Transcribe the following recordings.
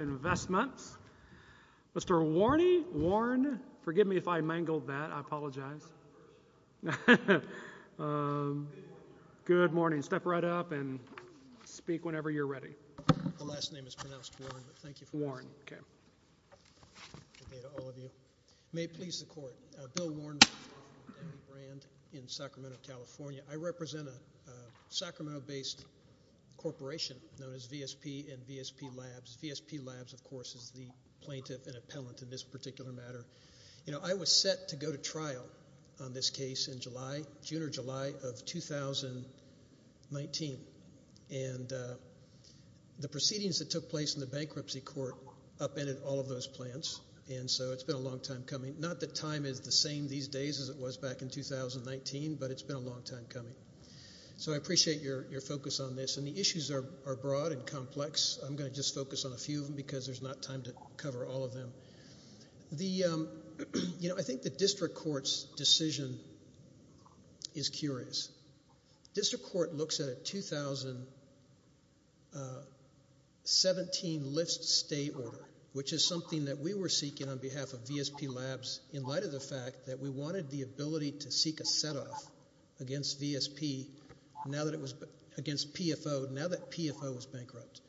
Investments. Mr. Warren, forgive me if I mangled that, I apologize. Good morning. Step right up and speak whenever you're ready. My last name is pronounced Warren, but thank you for listening. May it please the court. Bill Warren, I represent a Sacramento-based corporation known as VSP and VSP Labs. VSP Labs, of course, is the plaintiff and appellant in this particular matter. You know, I was set to go to trial on this case in July, June or July of 2019. And the proceedings that took place in the bankruptcy court upended all of those plans. And so it's been a long time coming. Not that time is the same these days as it was back in 2019, but it's been a long time coming. So I appreciate your focus on this. And the issues are broad and complex. I'm going to just focus on a few of them because there's not time to cover all of them. You know, I think the district court's decision is curious. The district court looks at a 2017 Lyft state order, which is something that we were seeking on behalf of VSP Labs in light of the fact that we wanted the ability to seek a set-off against VSP against PFO now that PFO was bankrupt.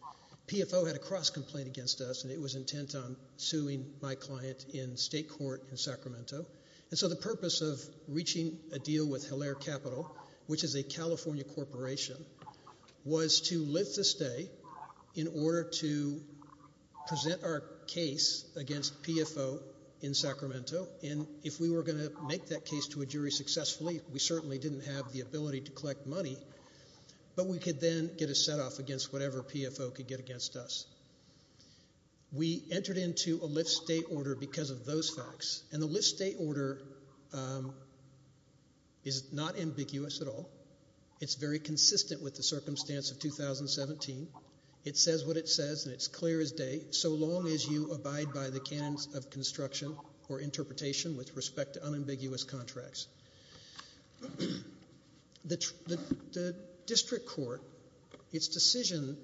PFO had a cross-complaint against us, and it was intent on suing my client in state court in Sacramento. And so the purpose of reaching a deal with Hilaire Capital, which is a California corporation, was to live to stay in order to present our case against PFO in Sacramento. And if we were going to make that case to a jury successfully, we certainly didn't have the ability to collect money. But we could then get a set-off against whatever PFO could get against us. We entered into a Lyft state order because of those facts, and the Lyft state order is not ambiguous at all. It's very consistent with the circumstance of 2017. It says what it says, and it's clear as day, so long as you abide by the canons of construction or interpretation with respect to unambiguous contracts. The district court, its decision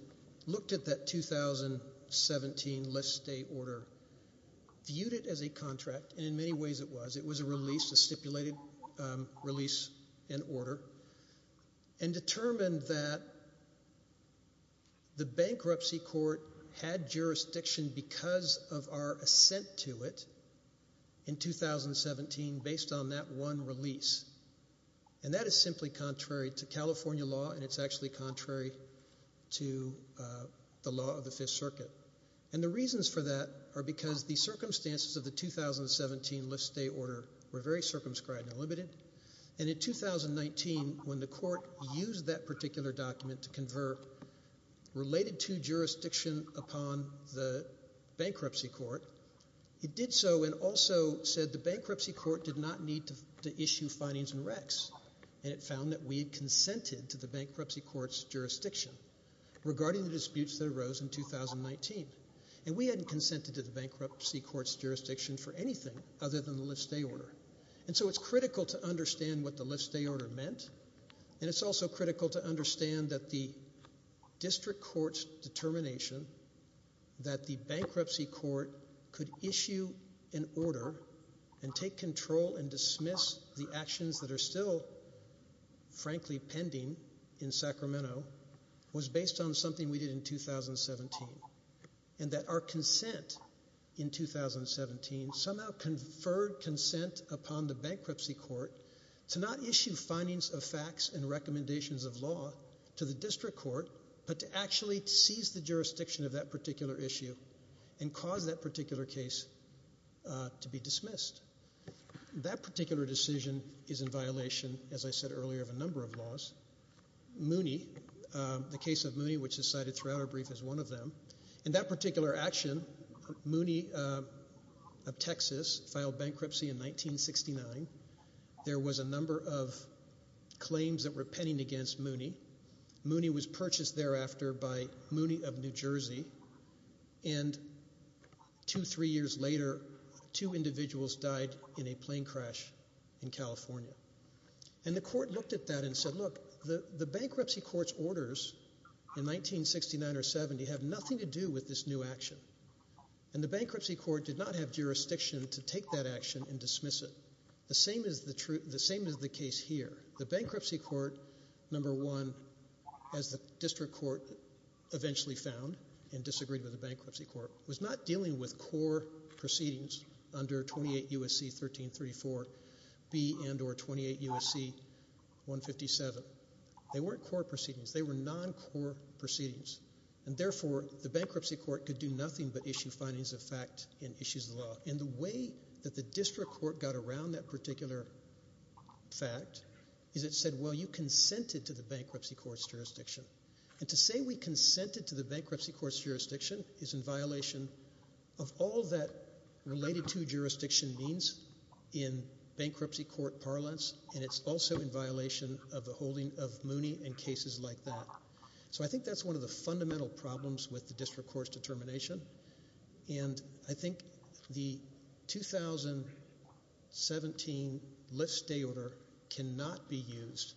looked at that 2017 Lyft state order, viewed it as a contract, and in many ways it was. It was a release, a stipulated release and order, and determined that the bankruptcy court had jurisdiction because of our assent to it in 2017 based on that one release. And that is simply contrary to California law, and it's actually contrary to the law of the Fifth Circuit. And the reasons for that are because the circumstances of the 2017 Lyft state order were very circumscribed and limited. And in 2019, when the court used that particular document to convert related to jurisdiction upon the bankruptcy court, it did so and also said the bankruptcy court did not need to issue findings and recs, and it found that we had consented to the bankruptcy court's jurisdiction regarding the disputes that arose in 2019. And we hadn't consented to the bankruptcy court's jurisdiction for anything other than the Lyft state order. And so it's critical to understand what the Lyft state order meant, and it's also critical to understand that the district court's determination that the bankruptcy court could issue an order and take control and dismiss the actions that are still, frankly, pending in Sacramento, was based on something we did in 2017. And that our consent in 2017 somehow conferred consent upon the bankruptcy court to not issue findings of facts and recommendations of law to the district court, but to actually seize the jurisdiction of that particular issue and cause that particular case to be dismissed. That particular decision is in violation, as I said earlier, of a number of laws. Mooney, the case of Mooney, which is cited throughout our brief as one of them, in that particular action, Mooney of Texas filed bankruptcy in 1969. There was a number of claims that were pending against Mooney. Mooney was purchased thereafter by Mooney of New Jersey, and two, three years later, two individuals died in a plane crash in California. And the court looked at that and said, look, the bankruptcy court's orders in 1969 or 70 have nothing to do with this new action. And the bankruptcy court did not have jurisdiction to take that action and dismiss it. The same is the case here. The bankruptcy court, number one, as the district court eventually found and disagreed with the bankruptcy court, was not dealing with core proceedings under 28 U.S.C. 1334B and or 28 U.S.C. 157. They weren't core proceedings. They were non-core proceedings. And therefore, the bankruptcy court could do nothing but issue findings of fact and issues of law. And the way that the district court got around that particular fact is it said, well, you consented to the bankruptcy court's jurisdiction. And to say we consented to the bankruptcy court's jurisdiction is in violation of all that related to jurisdiction means in bankruptcy court parlance, and it's also in violation of the holding of Mooney and cases like that. So I think that's one of the fundamental problems with the district court's determination. And I think the 2017 lift-stay order cannot be used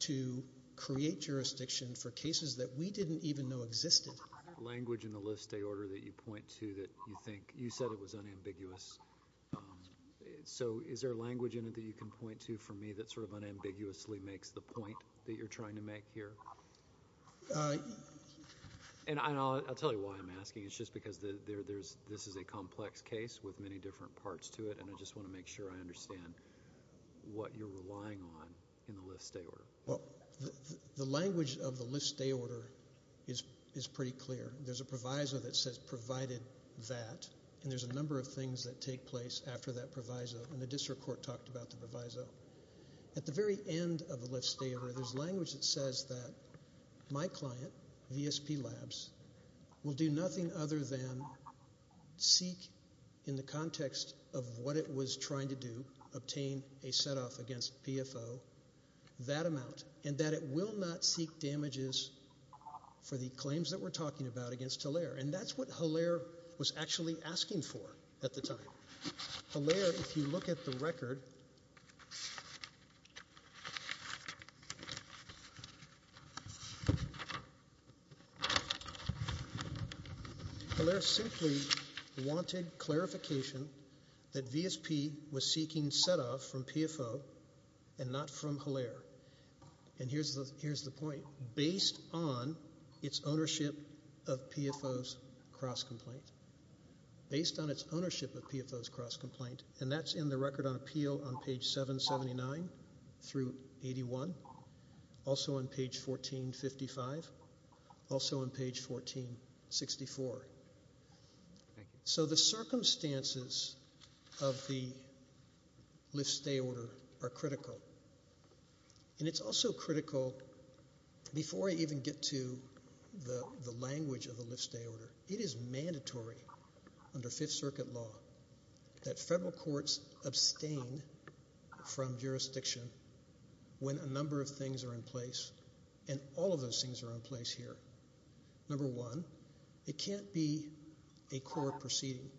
to create jurisdiction for cases that we didn't even know existed. The language in the lift-stay order that you point to that you think, you said it was unambiguous. So is there language in it that you can point to for me that sort of unambiguously makes the point that you're trying to make here? And I'll tell you why I'm asking. It's just because this is a complex case with many different parts to it, and I just want to make sure I understand what you're relying on in the lift-stay order. Well, the language of the lift-stay order is pretty clear. There's a proviso that says provided that, and there's a number of things that take place after that proviso, and the district court talked about the proviso. At the very end of the lift-stay order, there's language that says that my client, VSP Labs, will do nothing other than seek in the context of what it was trying to do, obtain a set-off against PFO, that amount, and that it will not seek damages for the claims that we're talking about against Hilaire. And that's what Hilaire was actually asking for at the time. Hilaire, if you look at the record, Hilaire simply wanted clarification that VSP was seeking set-off from PFO and not from Hilaire. And here's the point. Based on its ownership of PFO's cross-complaint, based on its ownership of PFO's cross-complaint, and that's in the record on appeal on page 779 through 81, also on page 1455, also on page 1464. So the circumstances of the lift-stay order are critical. And it's also critical, before I even get to the language of the lift-stay order, it is mandatory under Fifth Circuit law that federal courts abstain from jurisdiction when a number of things are in place, and all of those things are in place here. Number one, it can't be a court proceeding.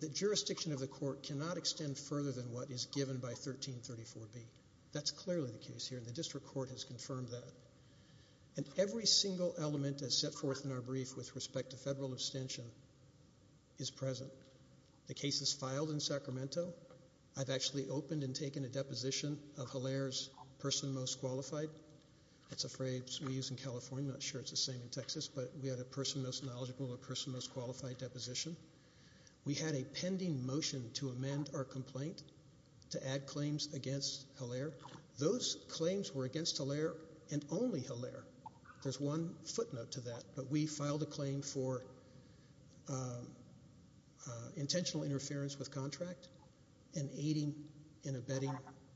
The jurisdiction of the court cannot extend further than what is given by 1334B. That's clearly the case here, and the district court has confirmed that. And every single element that's set forth in our brief with respect to federal abstention is present. The case is filed in Sacramento. I've actually opened and taken a deposition of Hilaire's person most qualified. That's a phrase we use in California. I'm not sure it's the same in Texas. But we had a person most knowledgeable, a person most qualified deposition. We had a pending motion to amend our complaint to add claims against Hilaire. Those claims were against Hilaire and only Hilaire. There's one footnote to that. But we filed a claim for intentional interference with contract and aiding and abetting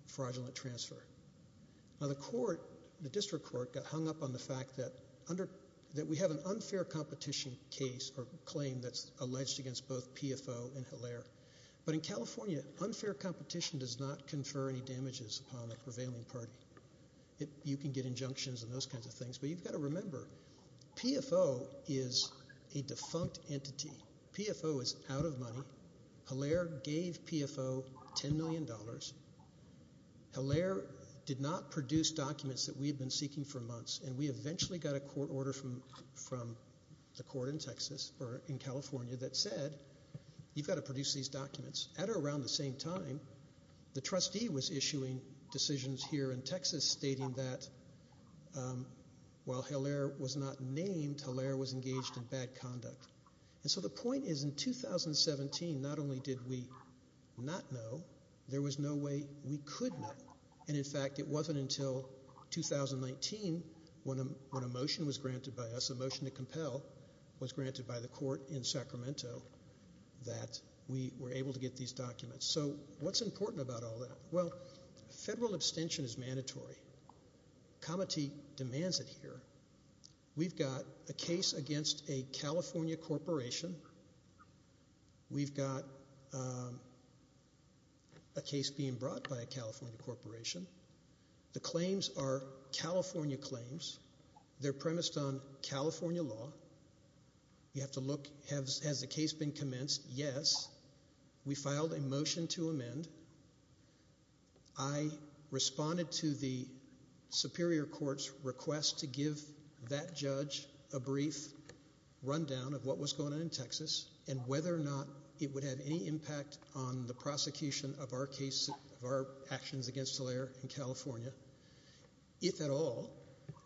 fraudulent transfer. Now, the district court got hung up on the fact that we have an unfair competition case or claim that's alleged against both PFO and Hilaire. But in California, unfair competition does not confer any damages upon a prevailing party. You can get injunctions and those kinds of things. But you've got to remember, PFO is a defunct entity. PFO is out of money. Hilaire gave PFO $10 million. Hilaire did not produce documents that we had been seeking for months. And we eventually got a court order from the court in Texas or in California that said, you've got to produce these documents. At or around the same time, the trustee was issuing decisions here in Texas stating that while Hilaire was not named, Hilaire was engaged in bad conduct. And so the point is in 2017, not only did we not know, there was no way we could know. And, in fact, it wasn't until 2019 when a motion was granted by us, a motion to compel, was granted by the court in Sacramento that we were able to get these documents. So what's important about all that? Well, federal abstention is mandatory. Comity demands it here. We've got a case against a California corporation. We've got a case being brought by a California corporation. The claims are California claims. They're premised on California law. You have to look, has the case been commenced? Yes. We filed a motion to amend. I responded to the superior court's request to give that judge a brief rundown of what was going on in Texas and whether or not it would have any impact on the prosecution of our actions against Hilaire in California. If at all,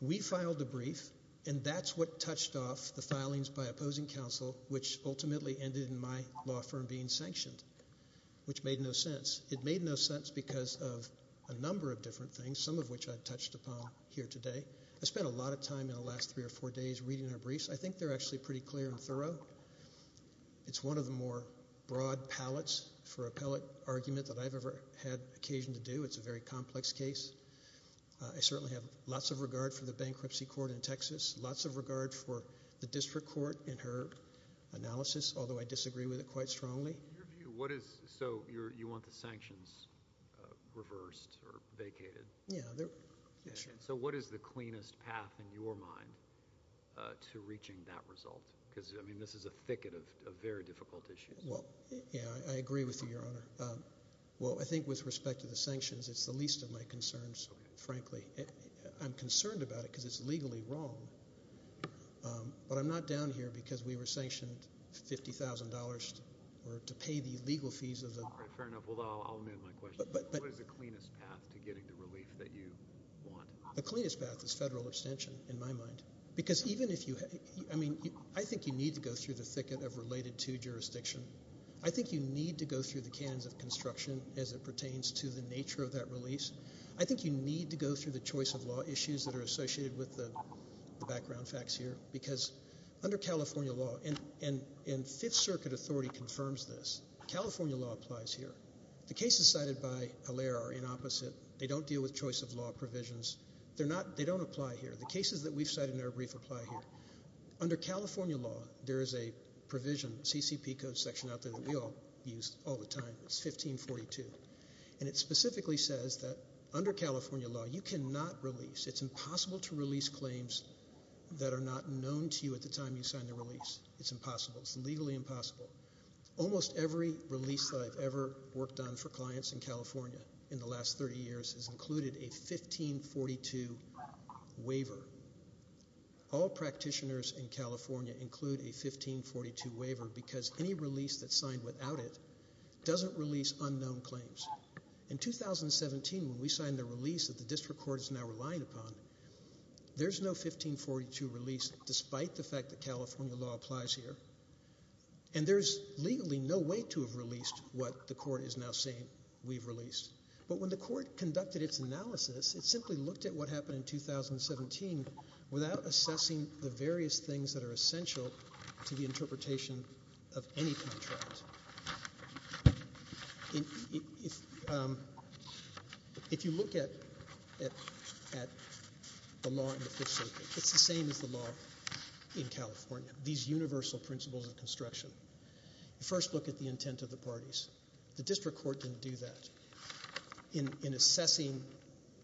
we filed a brief, and that's what touched off the filings by opposing counsel, which ultimately ended in my law firm being sanctioned, which made no sense. It made no sense because of a number of different things, some of which I've touched upon here today. I spent a lot of time in the last three or four days reading her briefs. I think they're actually pretty clear and thorough. It's one of the more broad palettes for appellate argument that I've ever had occasion to do. It's a very complex case. I certainly have lots of regard for the bankruptcy court in Texas, lots of regard for the district court in her analysis, although I disagree with it quite strongly. So you want the sanctions reversed or vacated? Yeah. So what is the cleanest path in your mind to reaching that result? Because, I mean, this is a thicket of very difficult issues. Well, yeah, I agree with you, Your Honor. Well, I think with respect to the sanctions, it's the least of my concerns, frankly. I'm concerned about it because it's legally wrong. But I'm not down here because we were sanctioned $50,000 or to pay the legal fees of the ---- All right, fair enough. Well, I'll amend my question. What is the cleanest path to getting the relief that you want? The cleanest path is federal abstention, in my mind. Because even if you ---- I mean, I think you need to go through the thicket of related to jurisdiction. I think you need to go through the canons of construction as it pertains to the nature of that release. I think you need to go through the choice of law issues that are associated with the background facts here. Because under California law, and Fifth Circuit authority confirms this, California law applies here. The cases cited by Allaire are inopposite. They don't deal with choice of law provisions. They don't apply here. The cases that we've cited in our brief apply here. Under California law, there is a provision, CCP code section out there that we all use all the time. It's 1542. And it specifically says that under California law, you cannot release, it's impossible to release claims that are not known to you at the time you sign the release. It's impossible. It's legally impossible. Almost every release that I've ever worked on for clients in California in the last 30 years has included a 1542 waiver. All practitioners in California include a 1542 waiver because any release that's signed without it doesn't release unknown claims. In 2017, when we signed the release that the district court is now relying upon, there's no 1542 release despite the fact that California law applies here. And there's legally no way to have released what the court is now saying we've released. But when the court conducted its analysis, it simply looked at what happened in 2017 without assessing the various things that are essential to the interpretation of any contract. If you look at the law in the Fifth Circuit, it's the same as the law in California, these universal principles of construction. The district court didn't do that in assessing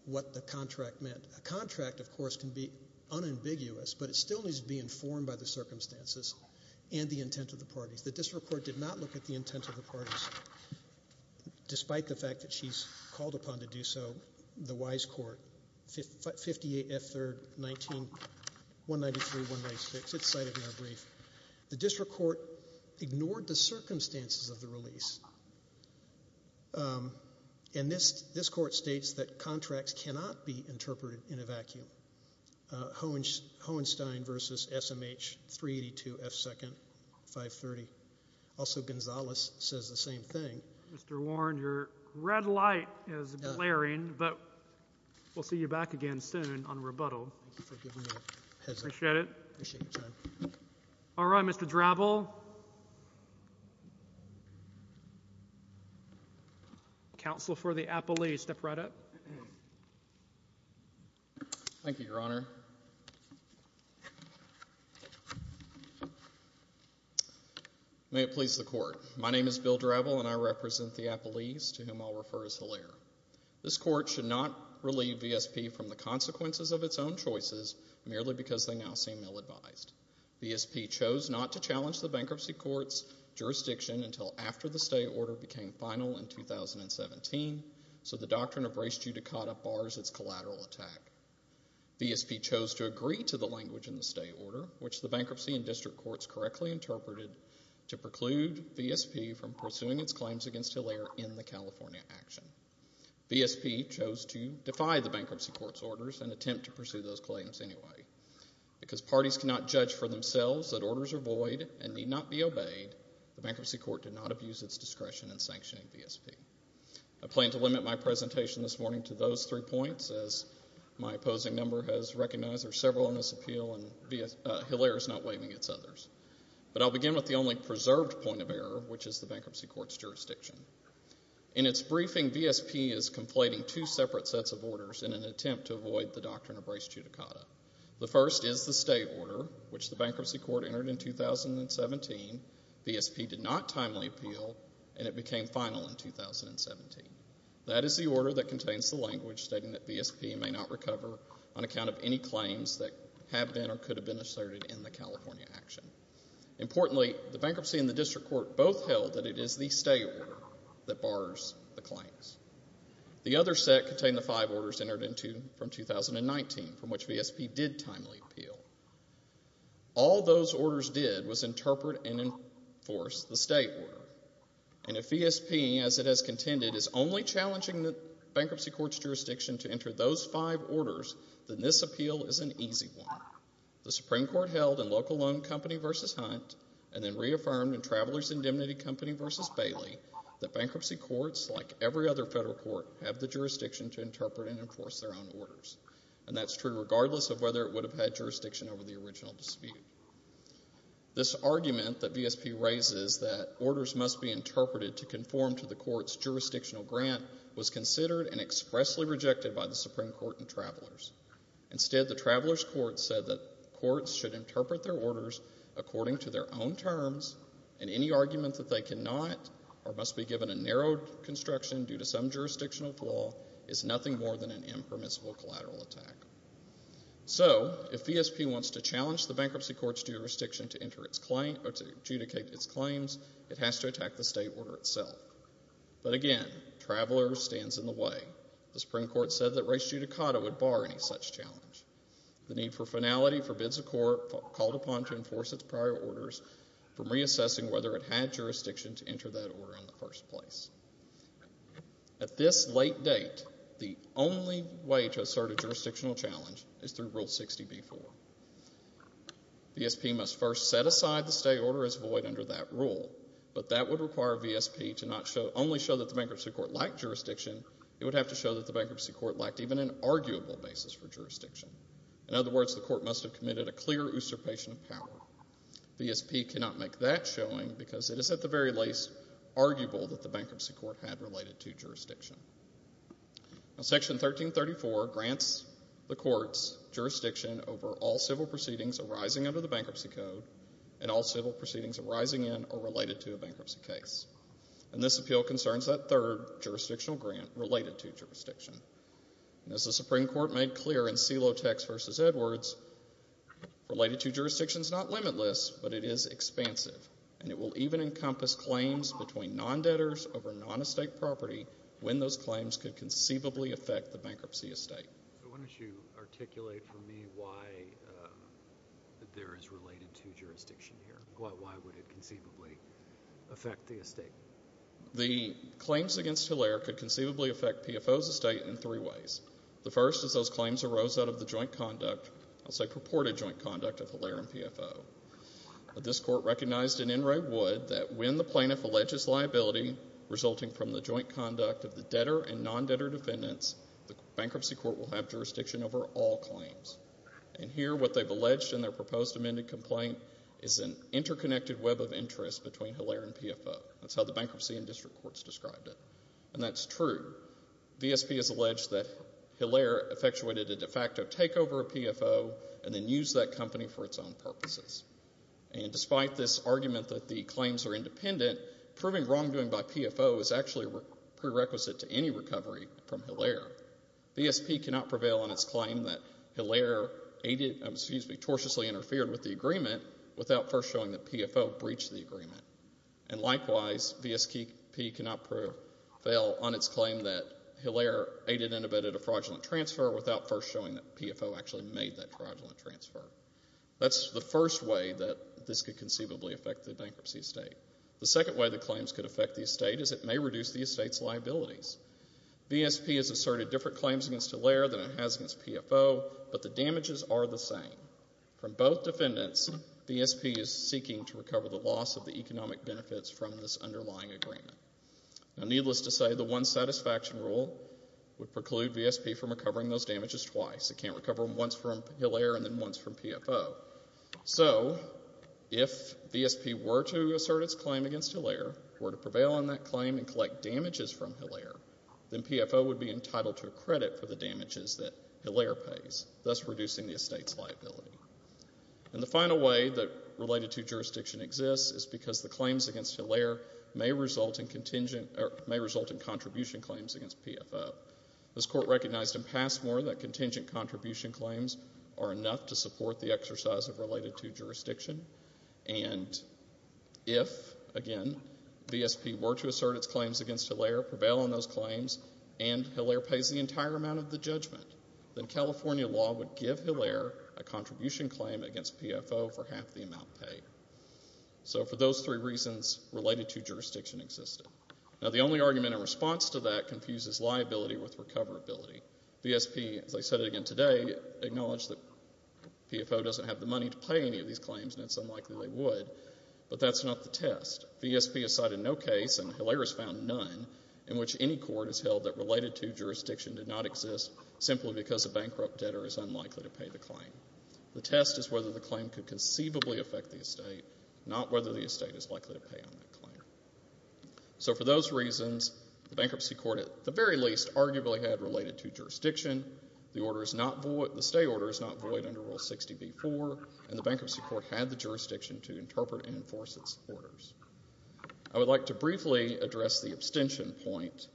what the contract meant. A contract, of course, can be unambiguous, but it still needs to be informed by the circumstances and the intent of the parties. The district court did not look at the intent of the parties. Despite the fact that she's called upon to do so, the wise court, 58F3R19193196, it's cited in our brief. The district court ignored the circumstances of the release. And this court states that contracts cannot be interpreted in a vacuum. Hohenstein v. SMH382F2nd530. Also, Gonzales says the same thing. Mr. Warren, your red light is glaring, but we'll see you back again soon on rebuttal. Appreciate it. All right, Mr. Drabble. Counsel for the appellees, step right up. Thank you, Your Honor. May it please the Court. My name is Bill Drabble, and I represent the appellees to whom I'll refer as Hilaire. This court should not relieve VSP from the consequences of its own choices merely because they now seem ill-advised. VSP chose not to challenge the bankruptcy court's jurisdiction until after the stay order became final in 2017, so the doctrine of res judicata bars its collateral attack. VSP chose to agree to the language in the stay order, which the bankruptcy and district courts correctly interpreted to preclude VSP from pursuing its claims against Hilaire in the California action. VSP chose to defy the bankruptcy court's orders and attempt to pursue those claims anyway. Because parties cannot judge for themselves that orders are void and need not be obeyed, the bankruptcy court did not abuse its discretion in sanctioning VSP. I plan to limit my presentation this morning to those three points, as my opposing number has recognized there are several on this appeal and Hilaire is not waiving its others. But I'll begin with the only preserved point of error, which is the bankruptcy court's jurisdiction. In its briefing, VSP is conflating two separate sets of orders in an attempt to avoid the doctrine of res judicata. The first is the stay order, which the bankruptcy court entered in 2017. VSP did not timely appeal, and it became final in 2017. That is the order that contains the language stating that VSP may not recover on account of any claims that have been or could have been asserted in the California action. Importantly, the bankruptcy and the district court both held that it is the stay order that bars the claims. The other set contained the five orders entered in from 2019, from which VSP did timely appeal. All those orders did was interpret and enforce the stay order. And if VSP, as it has contended, is only challenging the bankruptcy court's jurisdiction to enter those five orders, then this appeal is an easy one. The Supreme Court held in Local Loan Company v. Hunt and then reaffirmed in Travelers' Indemnity Company v. Bailey that bankruptcy courts, like every other federal court, have the jurisdiction to interpret and enforce their own orders. And that's true regardless of whether it would have had jurisdiction over the original dispute. This argument that VSP raises that orders must be interpreted to conform to the court's jurisdictional grant was considered and expressly rejected by the Supreme Court and Travelers. Instead, the Travelers' Court said that courts should interpret their orders according to their own terms, and any argument that they cannot or must be given a narrowed construction due to some jurisdictional flaw is nothing more than an impermissible collateral attack. So if VSP wants to challenge the bankruptcy court's jurisdiction to adjudicate its claims, it has to attack the stay order itself. But again, Travelers stands in the way. The Supreme Court said that res judicata would bar any such challenge. The need for finality forbids a court called upon to enforce its prior orders from reassessing whether it had jurisdiction to enter that order in the first place. At this late date, the only way to assert a jurisdictional challenge is through Rule 60b-4. VSP must first set aside the stay order as void under that rule, but that would require VSP to not only show that the bankruptcy court lacked jurisdiction, it would have to show that the bankruptcy court lacked even an arguable basis for jurisdiction. In other words, the court must have committed a clear usurpation of power. VSP cannot make that showing because it is at the very least arguable that the bankruptcy court had related to jurisdiction. Section 1334 grants the court's jurisdiction over all civil proceedings arising under the Bankruptcy Code and all civil proceedings arising in or related to a bankruptcy case. And this appeal concerns that third jurisdictional grant related to jurisdiction. And as the Supreme Court made clear in Celotex v. Edwards, related to jurisdiction is not limitless, but it is expansive, and it will even encompass claims between non-debtors over non-estate property when those claims could conceivably affect the bankruptcy estate. So why don't you articulate for me why there is related to jurisdiction here? Why would it conceivably affect the estate? The claims against Hilaire could conceivably affect PFO's estate in three ways. The first is those claims arose out of the joint conduct, I'll say purported joint conduct, of Hilaire and PFO. This court recognized in Enright Wood that when the plaintiff alleges liability resulting from the joint conduct of the debtor and non-debtor defendants, the bankruptcy court will have jurisdiction over all claims. And here what they've alleged in their proposed amended complaint is an interconnected web of interest between Hilaire and PFO. That's how the bankruptcy and district courts described it. And that's true. VSP has alleged that Hilaire effectuated a de facto takeover of PFO and then used that company for its own purposes. And despite this argument that the claims are independent, proving wrongdoing by PFO is actually prerequisite to any recovery from Hilaire. VSP cannot prevail on its claim that Hilaire tortuously interfered with the agreement without first showing that PFO breached the agreement. And likewise, VSP cannot prevail on its claim that Hilaire aided and abetted a fraudulent transfer without first showing that PFO actually made that fraudulent transfer. That's the first way that this could conceivably affect the bankruptcy estate. The second way the claims could affect the estate is it may reduce the estate's liabilities. VSP has asserted different claims against Hilaire than it has against PFO, but the damages are the same. From both defendants, VSP is seeking to recover the loss of the economic benefits from this underlying agreement. Now, needless to say, the one satisfaction rule would preclude VSP from recovering those damages twice. It can't recover them once from Hilaire and then once from PFO. So if VSP were to assert its claim against Hilaire, were to prevail on that claim and collect damages from Hilaire, then PFO would be entitled to a credit for the damages that Hilaire pays, thus reducing the estate's liability. And the final way that related to jurisdiction exists is because the claims against Hilaire may result in contribution claims against PFO. This Court recognized in Passmore that contingent contribution claims are enough to support the exercise of related to jurisdiction. And if, again, VSP were to assert its claims against Hilaire, prevail on those claims, and Hilaire pays the entire amount of the judgment, then California law would give Hilaire a contribution claim against PFO for half the amount paid. So for those three reasons, related to jurisdiction existed. Now, the only argument in response to that confuses liability with recoverability. VSP, as I said again today, acknowledged that PFO doesn't have the money to pay any of these claims and it's unlikely they would, but that's not the test. VSP has cited no case, and Hilaire has found none, in which any court has held that related to jurisdiction did not exist simply because a bankrupt debtor is unlikely to pay the claim. The test is whether the claim could conceivably affect the estate, not whether the estate is likely to pay on that claim. So for those reasons, the bankruptcy court, at the very least, arguably had related to jurisdiction. The stay order is not void under Rule 60b-4, and the bankruptcy court had the jurisdiction to interpret and enforce its orders. I would like to briefly address the abstention point.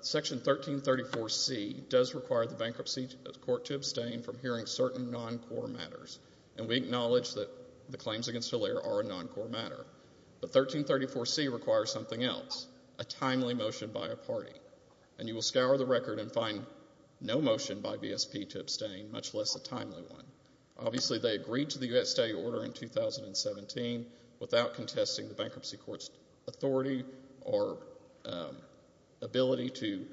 Section 1334C does require the bankruptcy court to abstain from hearing certain non-core matters, and we acknowledge that the claims against Hilaire are a non-core matter. But 1334C requires something else, a timely motion by a party, and you will scour the record and find no motion by VSP to abstain, much less a timely one. Obviously they agreed to the estate order in 2017 without contesting the bankruptcy court's authority or ability to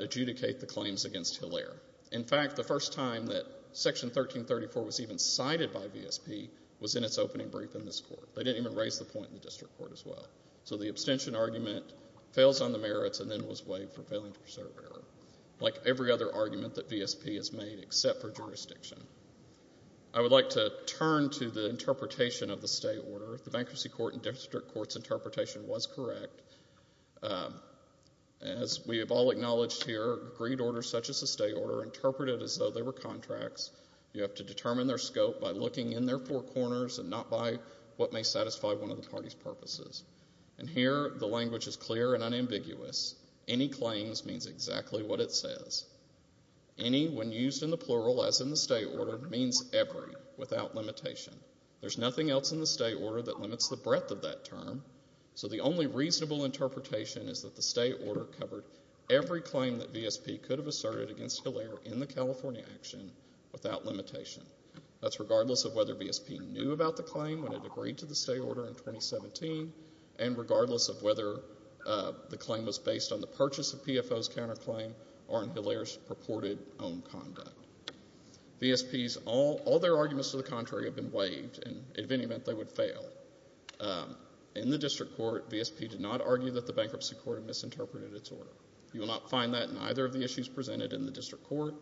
adjudicate the claims against Hilaire. In fact, the first time that Section 1334 was even cited by VSP was in its opening brief in this court. They didn't even raise the point in the district court as well. So the abstention argument fails on the merits and then was waived for failing to preserve error, like every other argument that VSP has made except for jurisdiction. I would like to turn to the interpretation of the stay order. The bankruptcy court and district court's interpretation was correct. As we have all acknowledged here, agreed orders such as the stay order are interpreted as though they were contracts. You have to determine their scope by looking in their four corners and not by what may satisfy one of the party's purposes. And here the language is clear and unambiguous. Any claims means exactly what it says. Any, when used in the plural as in the stay order, means every, without limitation. There's nothing else in the stay order that limits the breadth of that term, so the only reasonable interpretation is that the stay order covered every claim that VSP could have asserted against Hilaire in the California action without limitation. That's regardless of whether VSP knew about the claim when it agreed to the stay order in 2017 and regardless of whether the claim was based on the purchase of PFO's counterclaim or on Hilaire's purported own conduct. VSPs, all their arguments to the contrary have been waived, and in any event they would fail. In the district court, VSP did not argue that the bankruptcy court had misinterpreted its order. You will not find that in either of the issues presented in the district court,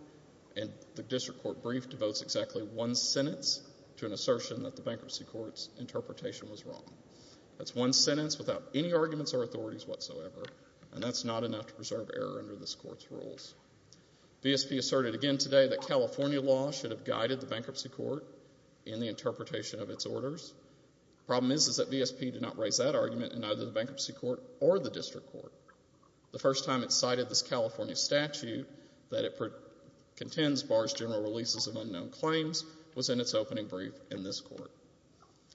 and the district court brief devotes exactly one sentence to an assertion that the bankruptcy court's interpretation was wrong. That's one sentence without any arguments or authorities whatsoever, and that's not enough to preserve error under this court's rules. VSP asserted again today that California law should have guided the bankruptcy court in the interpretation of its orders. The problem is that VSP did not raise that argument in either the bankruptcy court or the district court. The first time it cited this California statute that it contends bars general releases of unknown claims was in its opening brief in this court.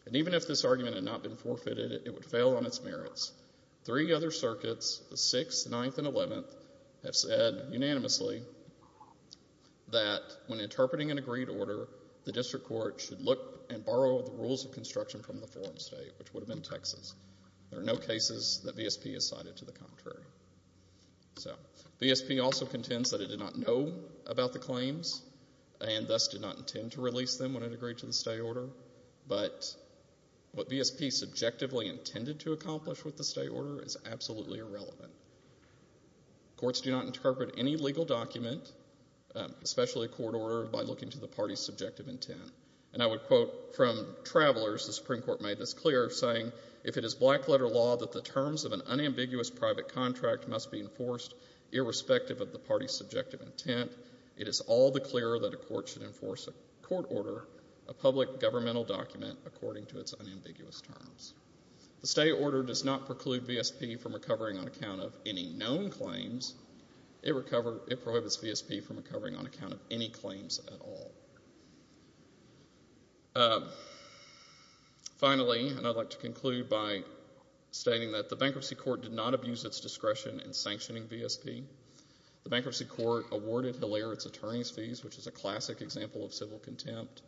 And even if this argument had not been forfeited, it would fail on its merits. Three other circuits, the Sixth, Ninth, and Eleventh, have said unanimously that when interpreting an agreed order, the district court should look and borrow the rules of construction from the forum state, which would have been Texas. There are no cases that VSP has cited to the contrary. So VSP also contends that it did not know about the claims and thus did not intend to release them when it agreed to the stay order. But what VSP subjectively intended to accomplish with the stay order is absolutely irrelevant. Courts do not interpret any legal document, especially a court order, by looking to the party's subjective intent. And I would quote from Travelers, the Supreme Court made this clear, saying, if it is black-letter law that the terms of an unambiguous private contract must be enforced irrespective of the party's subjective intent, it is all the clearer that a court should enforce a court order, a public governmental document, according to its unambiguous terms. The stay order does not preclude VSP from recovering on account of any known claims. It prohibits VSP from recovering on account of any claims at all. Finally, and I'd like to conclude by stating that the bankruptcy court did not abuse its discretion in sanctioning VSP. The bankruptcy court awarded Hilaire its attorney's fees, which is a classic example of civil contempt,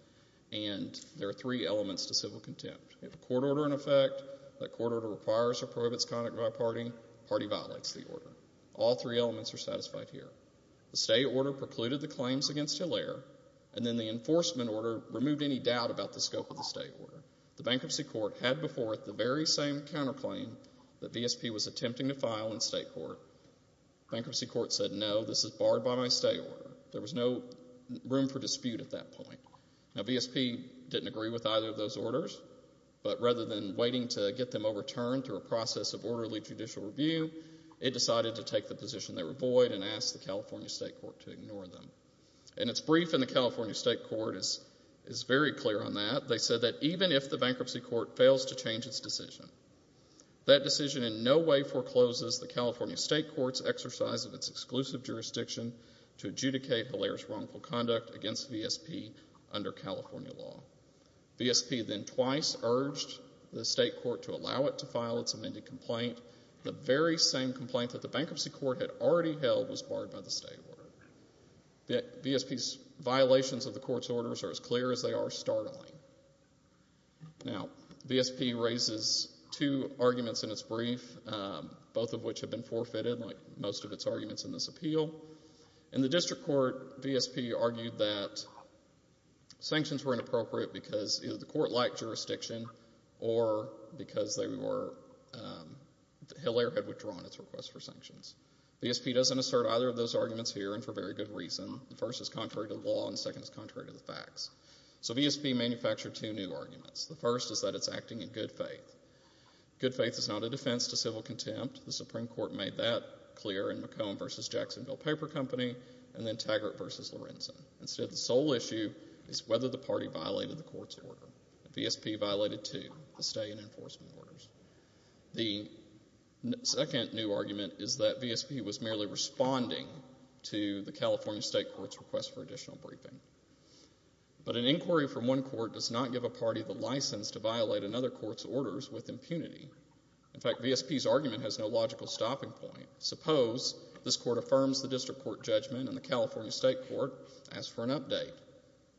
and there are three elements to civil contempt. You have a court order in effect. That court order requires or prohibits conduct by a party. The party violates the order. All three elements are satisfied here. The stay order precluded the claims against Hilaire, and then the enforcement order removed any doubt about the scope of the stay order. The bankruptcy court had before it the very same counterclaim that VSP was attempting to file in state court. The bankruptcy court said, no, this is barred by my stay order. There was no room for dispute at that point. Now, VSP didn't agree with either of those orders, but rather than waiting to get them overturned through a process of orderly judicial review, it decided to take the position they were void and asked the California state court to ignore them. And its brief in the California state court is very clear on that. They said that even if the bankruptcy court fails to change its decision, that decision in no way forecloses the California state court's exercise of its exclusive jurisdiction to adjudicate Hilaire's wrongful conduct against VSP under California law. VSP then twice urged the state court to allow it to file its amended complaint. The very same complaint that the bankruptcy court had already held was barred by the stay order. VSP's violations of the court's orders are as clear as they are startling. Now, VSP raises two arguments in its brief, both of which have been forfeited like most of its arguments in this appeal. In the district court, VSP argued that sanctions were inappropriate because either the court lacked jurisdiction or because Hilaire had withdrawn its request for sanctions. VSP doesn't assert either of those arguments here and for very good reason. The first is contrary to the law and the second is contrary to the facts. So VSP manufactured two new arguments. The first is that it's acting in good faith. Good faith is not a defense to civil contempt. The Supreme Court made that clear in McComb v. Jacksonville Paper Company and then Taggart v. Lorenzen. Instead, the sole issue is whether the party violated the court's order. VSP violated two, the stay and enforcement orders. The second new argument is that VSP was merely responding to the California state court's request for additional briefing. But an inquiry from one court does not give a party the license to violate another court's orders with impunity. In fact, VSP's argument has no logical stopping point. Suppose this court affirms the district court judgment and the California state court asks for an update.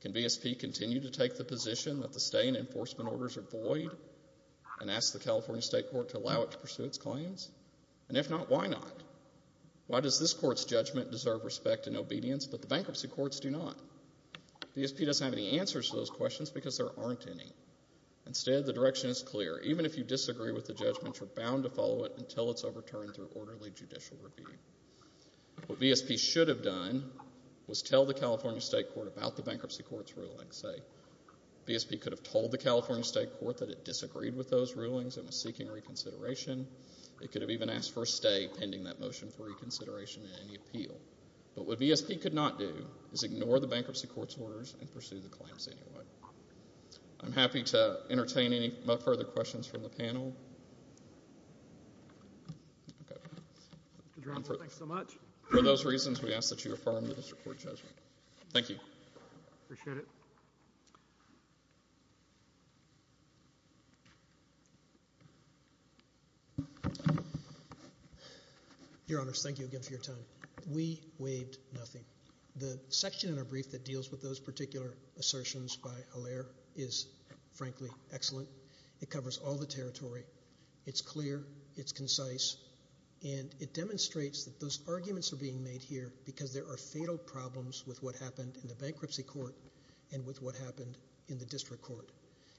Can VSP continue to take the position that the stay and enforcement orders are void and ask the California state court to allow it to pursue its claims? And if not, why not? Why does this court's judgment deserve respect and obedience, but the bankruptcy courts do not? VSP doesn't have any answers to those questions because there aren't any. Instead, the direction is clear. Even if you disagree with the judgment, you're bound to follow it until it's overturned through orderly judicial review. What VSP should have done was tell the California state court about the bankruptcy court's ruling, say. VSP could have told the California state court that it disagreed with those rulings and was seeking reconsideration. It could have even asked for a stay pending that motion for reconsideration and any appeal. But what VSP could not do is ignore the bankruptcy court's orders and pursue the claims anyway. I'm happy to entertain any further questions from the panel. Okay. Mr. Drasner, thanks so much. For those reasons, we ask that you affirm this report's judgment. Thank you. Appreciate it. Your Honors, thank you again for your time. We waived nothing. The section in our brief that deals with those particular assertions by Hilaire is, frankly, excellent. It covers all the territory. It's clear. It's concise. And it demonstrates that those arguments are being made here because there are fatal problems with what happened in the bankruptcy court and with what happened in the district court.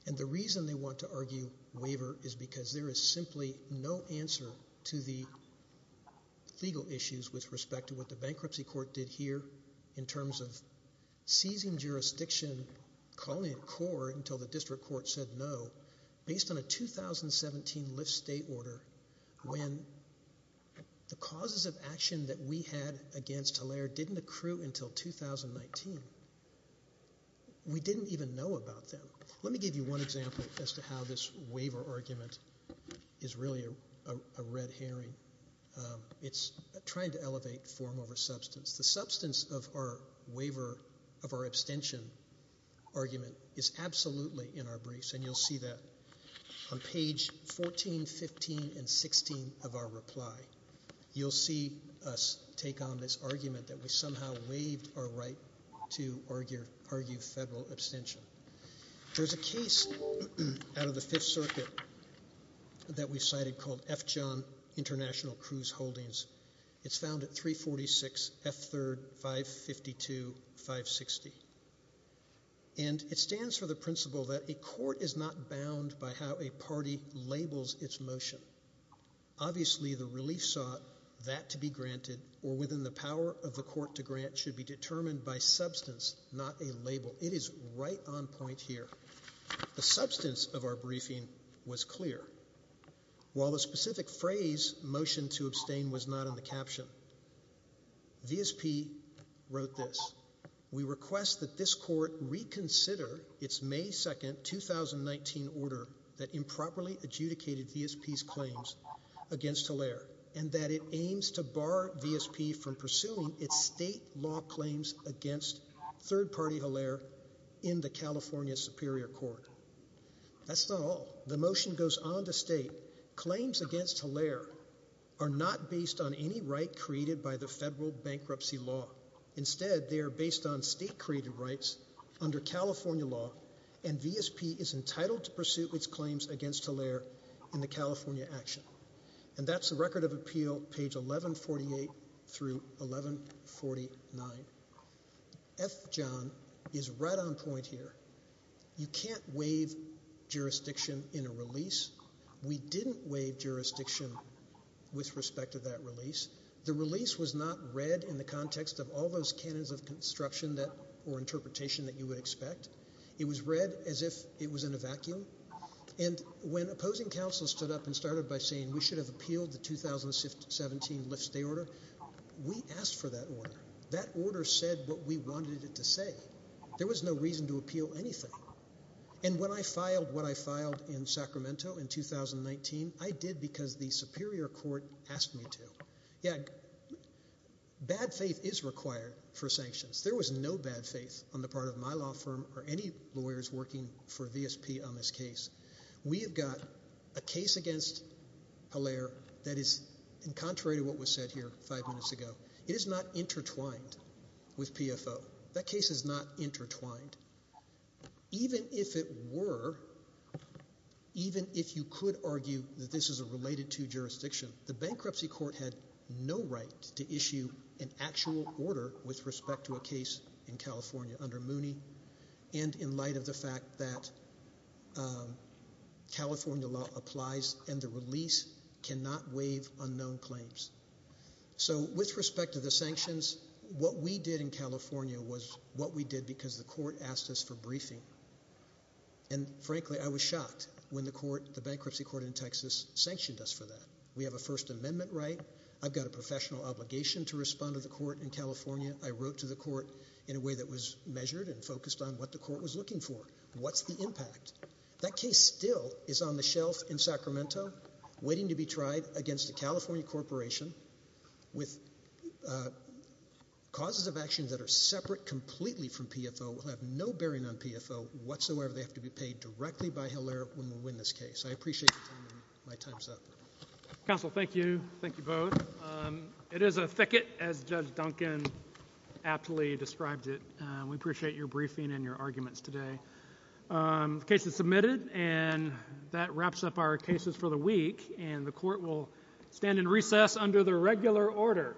And the reason they want to argue waiver is because there is simply no answer to the legal issues with respect to what the bankruptcy court did here in terms of seizing jurisdiction, calling it core until the district court said no, based on a 2017 Lyft state order when the causes of action that we had against Hilaire didn't accrue until 2019. We didn't even know about them. Let me give you one example as to how this waiver argument is really a red herring. It's trying to elevate form over substance. The substance of our waiver of our abstention argument is absolutely in our briefs, and you'll see that on page 14, 15, and 16 of our reply. You'll see us take on this argument that we somehow waived our right to argue federal abstention. There's a case out of the Fifth Circuit that we cited called F. John International Cruise Holdings. It's found at 346 F. 3rd, 552, 560. And it stands for the principle that a court is not bound by how a party labels its motion. Obviously, the relief sought that to be granted or within the power of the court to grant should be determined by substance, not a label. It is right on point here. The substance of our briefing was clear. While the specific phrase, motion to abstain, was not in the caption, VSP wrote this. We request that this court reconsider its May 2, 2019 order that improperly adjudicated VSP's claims against Hilaire and that it aims to bar VSP from pursuing its state law claims against third-party Hilaire in the California Superior Court. That's not all. The motion goes on to state claims against Hilaire are not based on any right created by the federal bankruptcy law. Instead, they are based on state-created rights under California law, and VSP is entitled to pursue its claims against Hilaire in the California action. And that's the record of appeal, page 1148 through 1149. F. John is right on point here. You can't waive jurisdiction in a release. We didn't waive jurisdiction with respect to that release. The release was not read in the context of all those canons of construction or interpretation that you would expect. It was read as if it was in a vacuum. And when opposing counsels stood up and started by saying we should have appealed the 2017 Lyft stay order, we asked for that order. That order said what we wanted it to say. There was no reason to appeal anything. And when I filed what I filed in Sacramento in 2019, I did because the Superior Court asked me to. Yeah, bad faith is required for sanctions. There was no bad faith on the part of my law firm or any lawyers working for VSP on this case. We have got a case against Hilaire that is contrary to what was said here five minutes ago. It is not intertwined with PFO. That case is not intertwined. Even if it were, even if you could argue that this is a related to jurisdiction, the Bankruptcy Court had no right to issue an actual order with respect to a case in California under Mooney and in light of the fact that California law applies and the release cannot waive unknown claims. So with respect to the sanctions, what we did in California was what we did because the court asked us for briefing. And frankly, I was shocked when the court, the Bankruptcy Court in Texas, sanctioned us for that. We have a First Amendment right. I've got a professional obligation to respond to the court in California. I wrote to the court in a way that was measured and focused on what the court was looking for. What's the impact? That case still is on the shelf in Sacramento waiting to be tried against a California corporation with causes of action that are separate completely from PFO, have no bearing on PFO whatsoever. They have to be paid directly by Hilaire when we win this case. I appreciate you taking my time. Counsel, thank you. Thank you both. It is a thicket, as Judge Duncan aptly described it. We appreciate your briefing and your arguments today. The case is submitted, and that wraps up our cases for the week. And the court will stand in recess under the regular order.